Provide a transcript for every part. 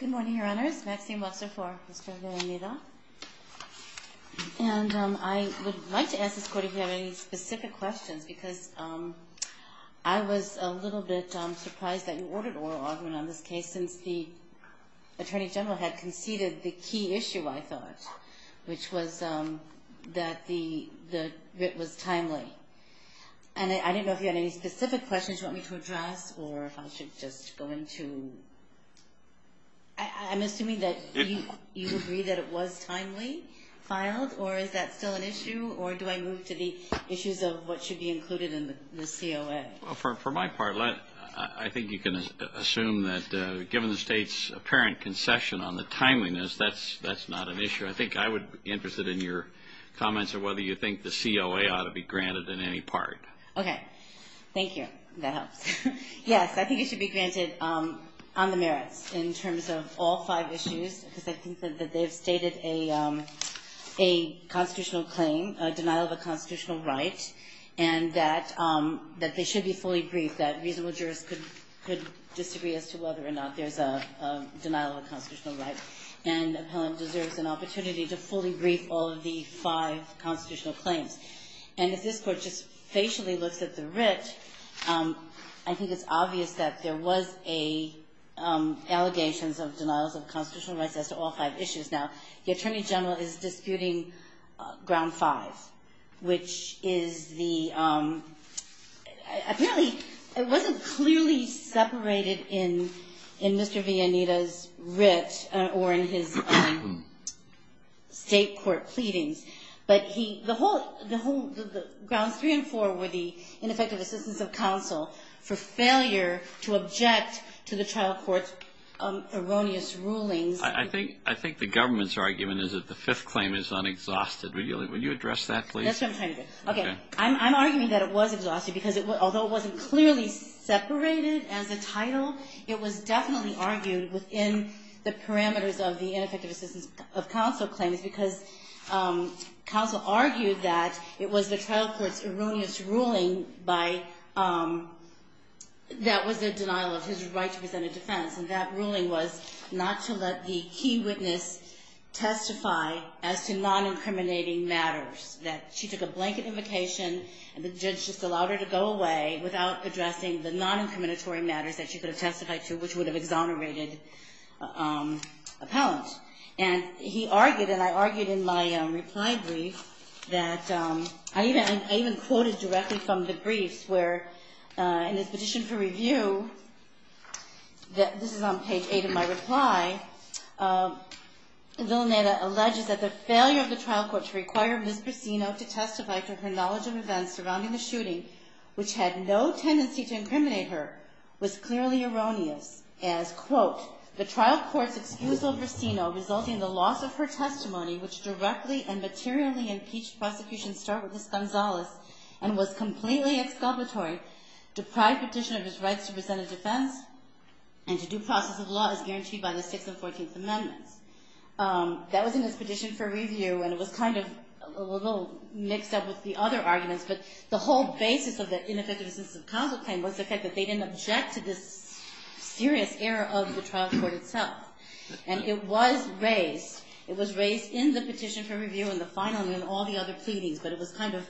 Good morning, Your Honors. Maxine Webster IV, Ms. Villaneda. And I would like to ask this Court if you have any specific questions, because I was a little bit surprised that you ordered oral argument on this case, since the Attorney General had conceded the key issue, I thought, which was that the writ was timely. And I didn't know if you had any specific questions you want me to address, or if I should just go into... I'm assuming that you agree that it was timely filed, or is that still an issue? Or do I move to the issues of what should be included in the COA? Well, for my part, I think you can assume that given the State's apparent concession on the timeliness, that's not an issue. I think I would be interested in your comments on whether you think the COA ought to be granted in any part. Okay. Thank you. That helps. Yes, I think it should be granted on the merits, in terms of all five issues, because I think that they've stated a constitutional claim, a denial of a constitutional right, and that they should be fully briefed, that reasonable jurists could disagree as to whether or not there's a denial of a constitutional right. And the appellant deserves an opportunity to fully brief all of the five constitutional claims. And if this Court just facially looks at the writ, I think it's obvious that there was allegations of denials of constitutional rights as to all five issues. Now, the Attorney General is disputing Ground Five, which is the – apparently, it wasn't clearly separated in Mr. Villanita's writ or in his State court pleadings, but the Grounds Three and Four were the ineffective assistance of counsel for failure to object to the trial court's erroneous rulings. I think the government's argument is that the Fifth Claim is unexhausted. Would you address that, please? That's what I'm trying to do. Okay. I'm arguing that it was exhausted, because although it wasn't clearly separated as a title, it was definitely argued within the parameters of the ineffective assistance of counsel claims, because counsel argued that it was the trial court's erroneous ruling by – that was the denial of his right to present a defense. And that ruling was not to let the key witness testify as to non-incriminating matters, that she took a blanket invocation and the judge just allowed her to go away without addressing the non-incriminatory matters that she could have testified to, which would have exonerated appellant. And he argued, and I argued in my reply brief, that – I even quoted directly from the brief, where in his petition for review, this is on page 8 of my reply, Villaneta alleges that the failure of the trial court to require Ms. Brissino to testify to her knowledge of events surrounding the shooting, which had no tendency to incriminate her, was clearly erroneous, as, quote, the trial court's excuse of Brissino resulting in the loss of her testimony, which directly and materially impeached prosecution start with Ms. Gonzalez, and was completely exculpatory, deprived petitioner of his rights to present a defense, and to due process of law as guaranteed by the 6th and 14th Amendments. That was in his petition for review, and it was kind of a little mixed up with the other arguments, but the whole basis of the ineffective assistance of counsel claim was the fact that they didn't object to this serious error of the trial court itself. And it was raised, it was raised in the petition for review in the final and in all the other pleadings, but it was kind of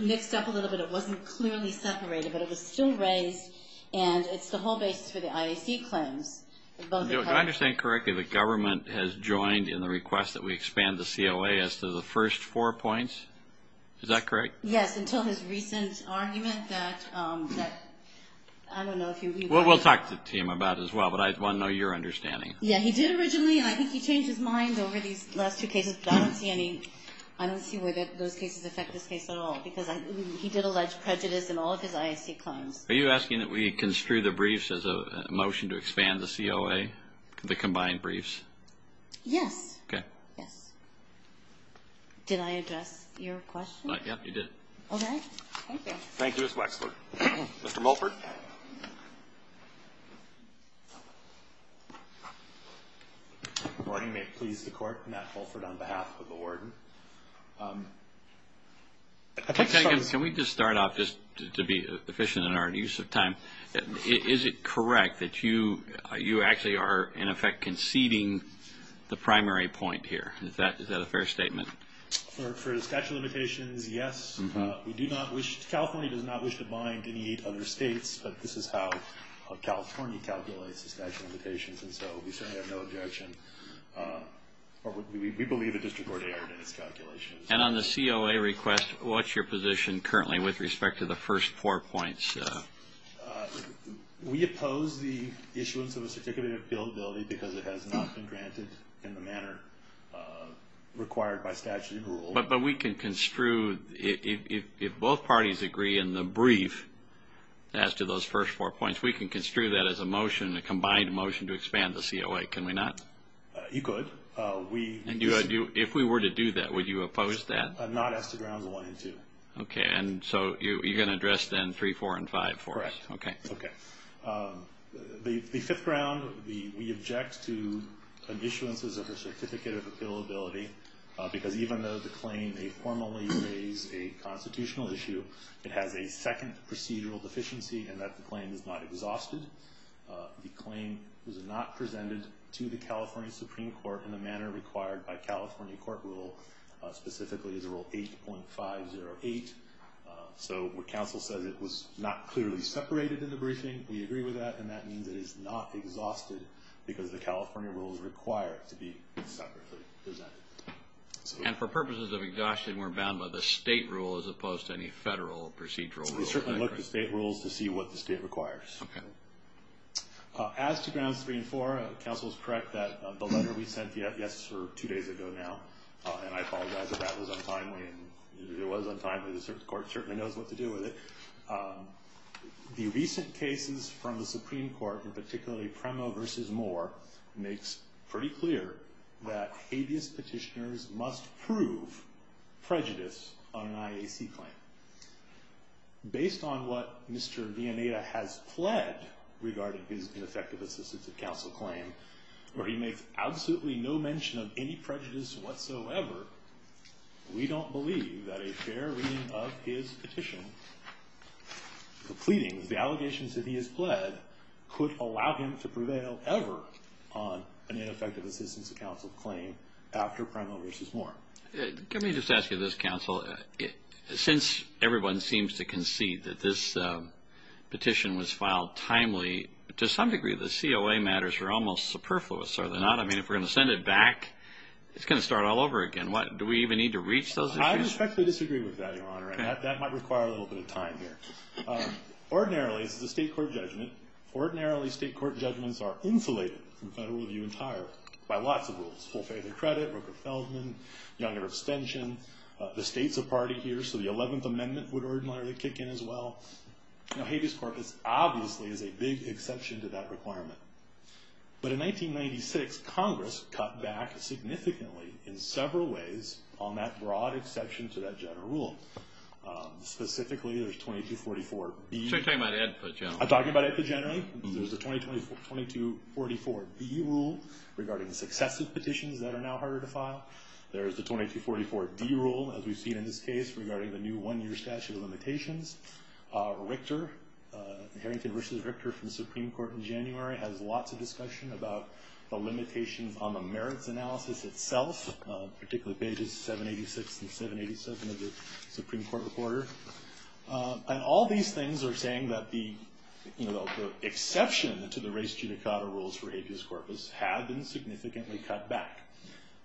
mixed up a little bit. It wasn't clearly separated, but it was still raised, and it's the whole basis for the IAC claims. Do I understand correctly the government has joined in the request that we expand the COA as to the first four points? Is that correct? Yes, until his recent argument that, I don't know if you've heard of it. We'll talk to him about it as well, but I want to know your understanding. Yeah, he did originally, and I think he changed his mind over these last two cases, but I don't see where those cases affect this case at all, because he did allege prejudice in all of his IAC claims. Are you asking that we construe the briefs as a motion to expand the COA, the combined briefs? Yes. Okay. Yes. Did I address your question? Yep, you did. Okay. Thank you. Thank you, Ms. Wexler. Mr. Mulford. Good morning. May it please the Court, Matt Mulford on behalf of the warden. Can we just start off just to be efficient in our use of time? Is it correct that you actually are in effect conceding the primary point here? Is that a fair statement? For the statute of limitations, yes. California does not wish to bind any other states, but this is how California calculates the statute of limitations, and so we certainly have no objection, or we believe the district court erred in its calculations. And on the COA request, what's your position currently with respect to the first four points? We oppose the issuance of a certificate of appealability because it has not been granted in the manner required by statute of rules. But we can construe, if both parties agree in the brief as to those first four points, we can construe that as a motion, a combined motion, to expand the COA. Can we not? You could. And if we were to do that, would you oppose that? Not as to grounds one and two. Okay. And so you're going to address then three, four, and five for us? Correct. Okay. Okay. The fifth ground, we object to an issuance of a certificate of appealability, because even though the claim may formally raise a constitutional issue, it has a second procedural deficiency in that the claim is not exhausted. The claim was not presented to the California Supreme Court in the manner required by California court rule, specifically the rule 8.508. So when counsel says it was not clearly separated in the briefing, we agree with that, and that means it is not exhausted because the California rules require it to be separately presented. And for purposes of exhaustion, we're bound by the state rule as opposed to any federal procedural rule. We certainly look at state rules to see what the state requires. Okay. As to grounds three and four, counsel is correct that the letter we sent you, yes, two days ago now, and I apologize if that was untimely. It was untimely. The Supreme Court certainly knows what to do with it. The recent cases from the Supreme Court, and particularly Premo v. Moore, makes pretty clear that habeas petitioners must prove prejudice on an IAC claim. Based on what Mr. Vianeta has pled regarding his ineffective assistance of counsel claim, where he makes absolutely no mention of any prejudice whatsoever, we don't believe that a fair reading of his petition, the pleadings, the allegations that he has pled, could allow him to prevail ever on an ineffective assistance of counsel claim after Premo v. Moore. Let me just ask you this, counsel. Since everyone seems to concede that this petition was filed timely, to some degree the COA matters are almost superfluous, are they not? I mean, if we're going to send it back, it's going to start all over again. Do we even need to reach those issues? I respectfully disagree with that, Your Honor, and that might require a little bit of time here. Ordinarily, this is a state court judgment. Ordinarily, state court judgments are insulated from federal review entirely by lots of rules. Full failure of credit, Rooker-Feldman, Younger abstention, the state's a party here, so the 11th Amendment would ordinarily kick in as well. Now, habeas corpus obviously is a big exception to that requirement. But in 1996, Congress cut back significantly in several ways on that broad exception to that general rule. Specifically, there's 2244B. So you're talking about AEDPA generally? I'm talking about AEDPA generally. There's the 2244B rule regarding successive petitions that are now harder to file. There's the 2244D rule, as we've seen in this case, regarding the new one-year statute of limitations. Richter, Harrington v. Richter from the Supreme Court in January, has lots of discussion about the limitations on the merits analysis itself, particularly pages 786 and 787 of the Supreme Court Reporter. And all these things are saying that the exception to the res judicata rules for habeas corpus had been significantly cut back.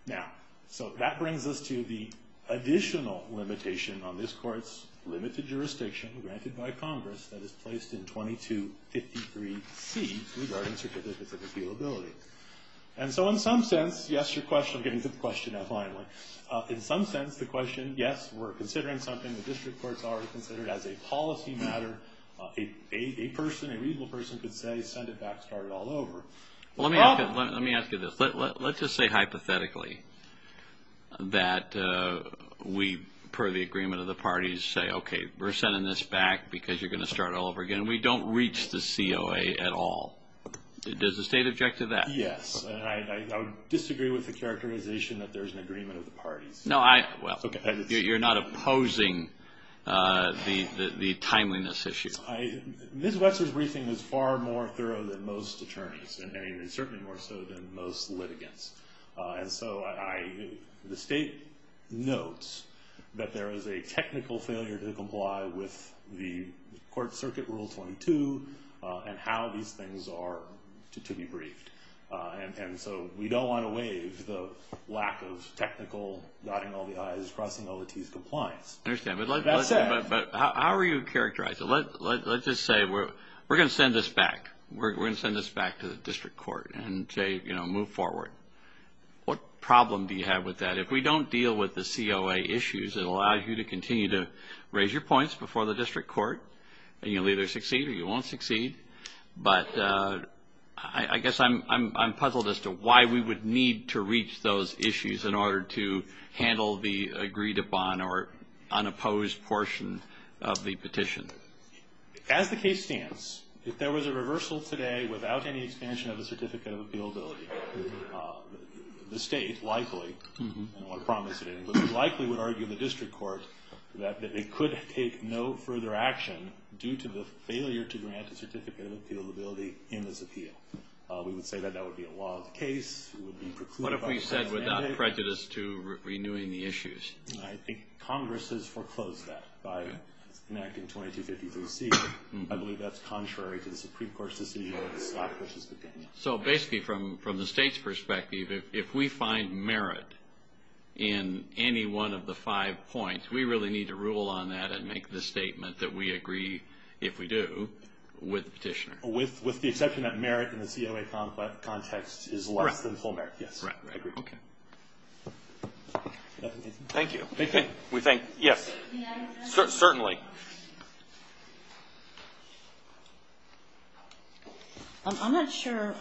Now, so that brings us to the additional limitation on this court's limited jurisdiction, granted by Congress, that is placed in 2253C, regarding certificates of appealability. And so in some sense, yes, your question, I'm getting to the question now finally. In some sense, the question, yes, we're considering something the district courts already considered as a policy matter. A person, a reasonable person could say, send it back, start it all over. Well, let me ask you this. Let's just say hypothetically that we, per the agreement of the parties, say, okay, we're sending this back because you're going to start all over again. We don't reach the COA at all. Does the state object to that? Yes, and I would disagree with the characterization that there's an agreement of the parties. No, I, well, you're not opposing the timeliness issue. Ms. Wetzler's briefing was far more thorough than most attorneys, and certainly more so than most litigants. And so the state notes that there is a technical failure to comply with the court circuit rule 22 and how these things are to be briefed. And so we don't want to waive the lack of technical dotting all the i's, crossing all the t's compliance. I understand, but how are you characterizing it? Let's just say we're going to send this back. We're going to send this back to the district court and say, you know, move forward. What problem do you have with that? If we don't deal with the COA issues, it allows you to continue to raise your points before the district court, and you'll either succeed or you won't succeed. But I guess I'm puzzled as to why we would need to reach those issues in order to handle the agreed upon or unopposed portion of the petition. As the case stands, if there was a reversal today without any expansion of the certificate of appealability, the state likely, and I want to promise it, likely would argue the district court that it could take no further action due to the failure to grant a certificate of appealability in this appeal. We would say that that would be a lawless case. What if we said without prejudice to renewing the issues? I think Congress has foreclosed that by an act in 2253C. I believe that's contrary to the Supreme Court's decision. So basically from the state's perspective, if we find merit in any one of the five points, we really need to rule on that and make the statement that we agree, if we do, with the petitioner. With the exception that merit in the COA context is less than full merit, yes. I agree. Okay. Thank you. We thank you. Yes. Certainly. I'm not sure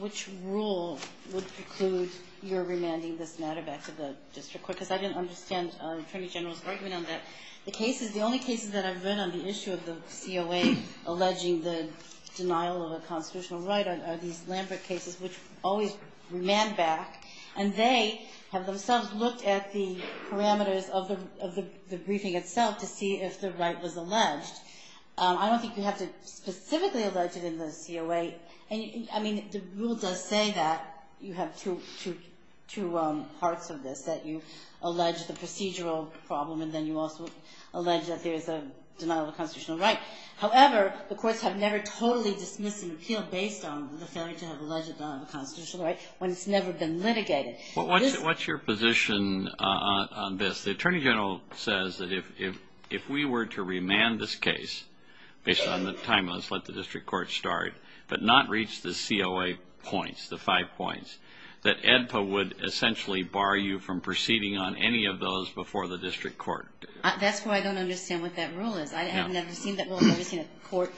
which rule would preclude your remanding this matter back to the district court because I didn't understand Attorney General's argument on that. The case is the only case that I've read on the issue of the COA alleging the denial of a constitutional right are these Lambert cases, which always remand back, and they have themselves looked at the parameters of the briefing itself to see if the right was alleged. I don't think you have to specifically allege it in the COA. I mean, the rule does say that. You have two parts of this, that you allege the procedural problem, and then you also allege that there is a denial of a constitutional right. However, the courts have never totally dismissed an appeal based on the failure to have alleged the denial of a constitutional right when it's never been litigated. What's your position on this? The Attorney General says that if we were to remand this case based on the time, let's let the district court start, but not reach the COA points, the five points, that AEDPA would essentially bar you from proceeding on any of those before the district court. That's why I don't understand what that rule is. I have never seen that rule. I've never seen a court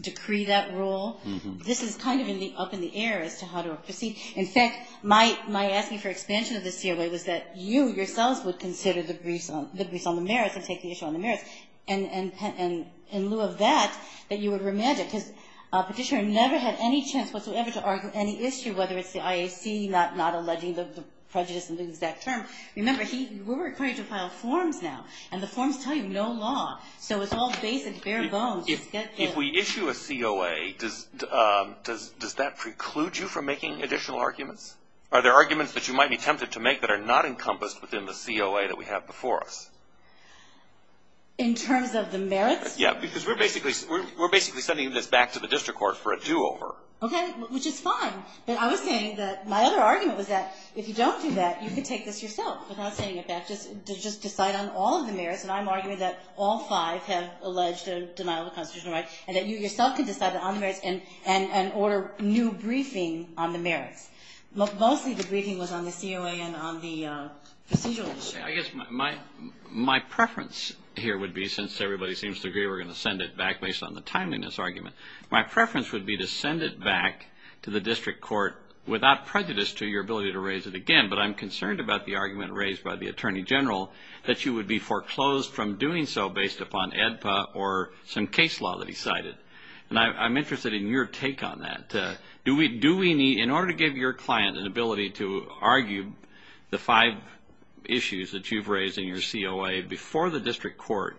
decree that rule. This is kind of up in the air as to how to proceed. In fact, my asking for expansion of the COA was that you yourselves would consider the briefs on the merits and take the issue on the merits, and in lieu of that, that you would remand it, because Petitioner never had any chance whatsoever to argue any issue, whether it's the IAC not alleging the prejudice in the exact term. Remember, we're required to file forms now, and the forms tell you no law. So it's all basic, bare bones. If we issue a COA, does that preclude you from making additional arguments? Are there arguments that you might be tempted to make that are not encompassed within the COA that we have before us? In terms of the merits? Yeah, because we're basically sending this back to the district court for a do-over. Okay, which is fine, but I was saying that my other argument was that if you don't do that, you can take this yourself without sending it back. To just decide on all of the merits, and I'm arguing that all five have alleged a denial of constitutional rights, and that you yourself can decide on the merits and order new briefing on the merits. Mostly the briefing was on the COA and on the procedural issue. I guess my preference here would be, since everybody seems to agree we're going to send it back based on the timeliness argument, my preference would be to send it back to the district court without prejudice to your ability to raise it again, but I'm concerned about the argument raised by the Attorney General that you would be foreclosed from doing so based upon AEDPA or some case law that he cited, and I'm interested in your take on that. In order to give your client an ability to argue the five issues that you've raised in your COA before the district court,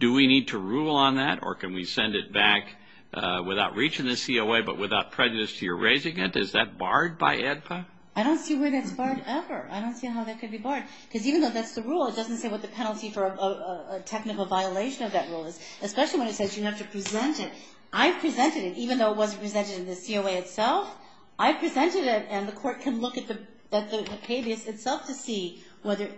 do we need to rule on that, or can we send it back without reaching the COA but without prejudice to your raising it? Is that barred by AEDPA? I don't see where that's barred ever. I don't see how that could be barred. Because even though that's the rule, it doesn't say what the penalty for a technical violation of that rule is, especially when it says you have to present it. I presented it, even though it wasn't presented in the COA itself. I presented it, and the court can look at the habeas itself to see whether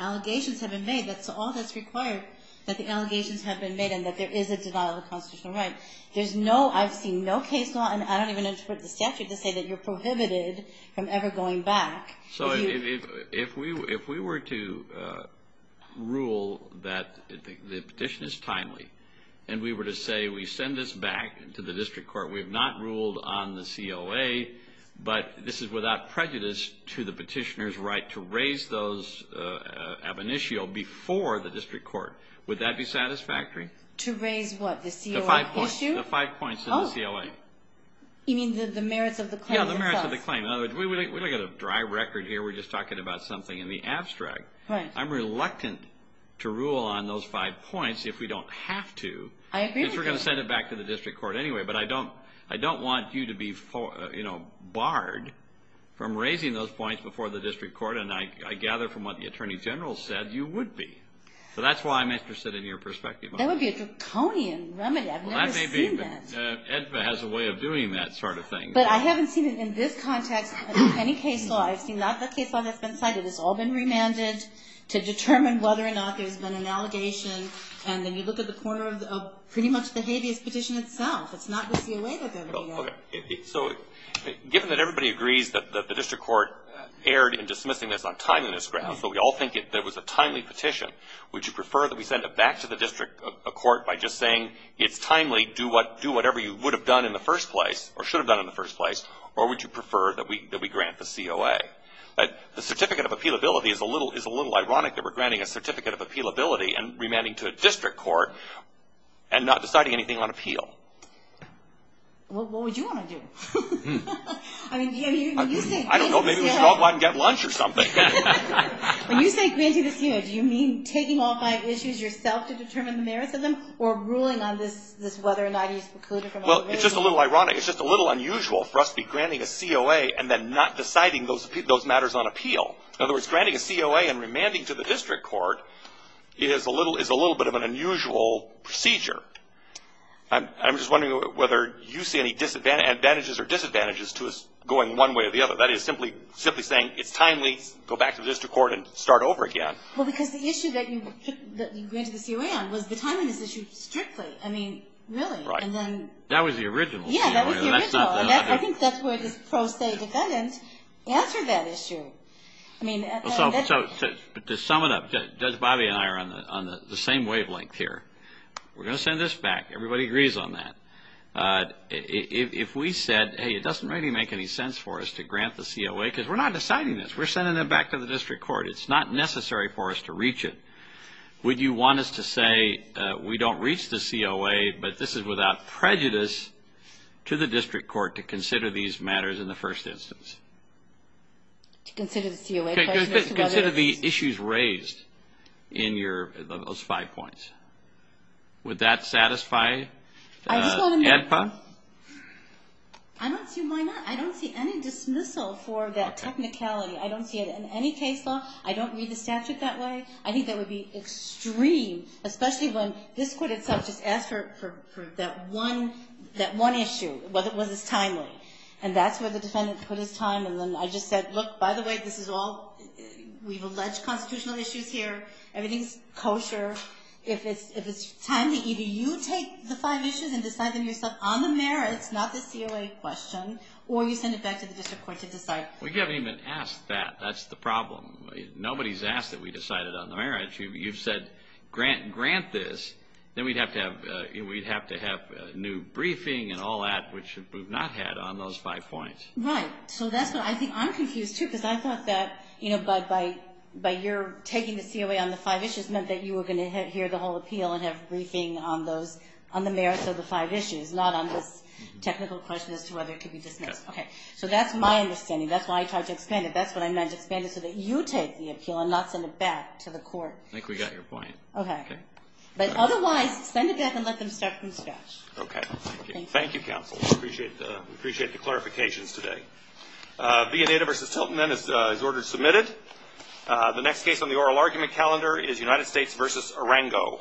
allegations have been made. That's all that's required, that the allegations have been made and that there is a denial of constitutional rights. I've seen no case law, and I don't even interpret the statute to say that you're prohibited from ever going back. So if we were to rule that the petition is timely, and we were to say we send this back to the district court, we have not ruled on the COA, but this is without prejudice to the petitioner's right to raise those ab initio before the district court. Would that be satisfactory? To raise what? The COA issue? The five points of the COA. You mean the merits of the claim? Yeah, the merits of the claim. In other words, we don't have a dry record here. We're just talking about something in the abstract. I'm reluctant to rule on those five points if we don't have to. I agree with you. Because we're going to send it back to the district court anyway, but I don't want you to be barred from raising those points before the district court, and I gather from what the Attorney General said you would be. So that's why I'm interested in your perspective on that. That would be a draconian remedy. I've never seen that. EDVA has a way of doing that sort of thing. But I haven't seen it in this context in any case law. I've seen a lot of the case law that's been cited. It's all been remanded to determine whether or not there's been an allegation, and then you look at the corner of pretty much the habeas petition itself. It's not with the COA that they're doing that. So given that everybody agrees that the district court erred in dismissing this on timeliness grounds, so we all think that it was a timely petition, would you prefer that we send it back to the district court by just saying it's timely, do whatever you would have done in the first place or should have done in the first place, or would you prefer that we grant the COA? The certificate of appealability is a little ironic that we're granting a certificate of appealability and remanding to a district court and not deciding anything on appeal. What would you want to do? I don't know. Maybe we should all go out and get lunch or something. When you say granting the COA, do you mean taking all five issues yourself to determine the merits of them or ruling on this whether or not he's precluded from all the other issues? Well, it's just a little ironic. It's just a little unusual for us to be granting a COA and then not deciding those matters on appeal. In other words, granting a COA and remanding to the district court is a little bit of an unusual procedure. I'm just wondering whether you see any advantages or disadvantages to us going one way or the other. That is, simply saying it's timely, go back to the district court and start over again. Well, because the issue that you granted the COA on was the timing of this issue strictly. I mean, really. Right. That was the original COA. Yeah, that was the original. I think that's where this pro se defendant answered that issue. To sum it up, Judge Bobby and I are on the same wavelength here. We're going to send this back. Everybody agrees on that. If we said, hey, it doesn't really make any sense for us to grant the COA because we're not deciding this. We're sending it back to the district court. It's not necessary for us to reach it. Would you want us to say we don't reach the COA, but this is without prejudice to the district court to consider these matters in the first instance? To consider the COA questions? Consider the issues raised in those five points. Would that satisfy AEDPA? I don't see why not. I don't see any dismissal for that technicality. I don't see it in any case law. I don't read the statute that way. I think that would be extreme, especially when this court itself just asked for that one issue, whether it was timely. And that's where the defendant put his time. And then I just said, look, by the way, we've alleged constitutional issues here. Everything's kosher. If it's timely, either you take the five issues and decide them yourself on the merits, not the COA question, or you send it back to the district court to decide. We haven't even asked that. That's the problem. Nobody's asked that we decide it on the merits. You've said grant this. Then we'd have to have a new briefing and all that, which we've not had on those five points. Right. So that's what I think I'm confused, too, because I thought that, you know, by your taking the COA on the five issues meant that you were going to hear the whole appeal and have briefing on the merits of the five issues, not on this technical question as to whether it could be dismissed. Okay. So that's my understanding. That's why I tried to expand it. That's what I meant to expand it so that you take the appeal and not send it back to the court. I think we got your point. Okay. Okay. Thank you. Thank you, counsel. We appreciate the clarifications today. Vienita v. Tilton, then, is ordered submitted. The next case on the oral argument calendar is United States v. Arango.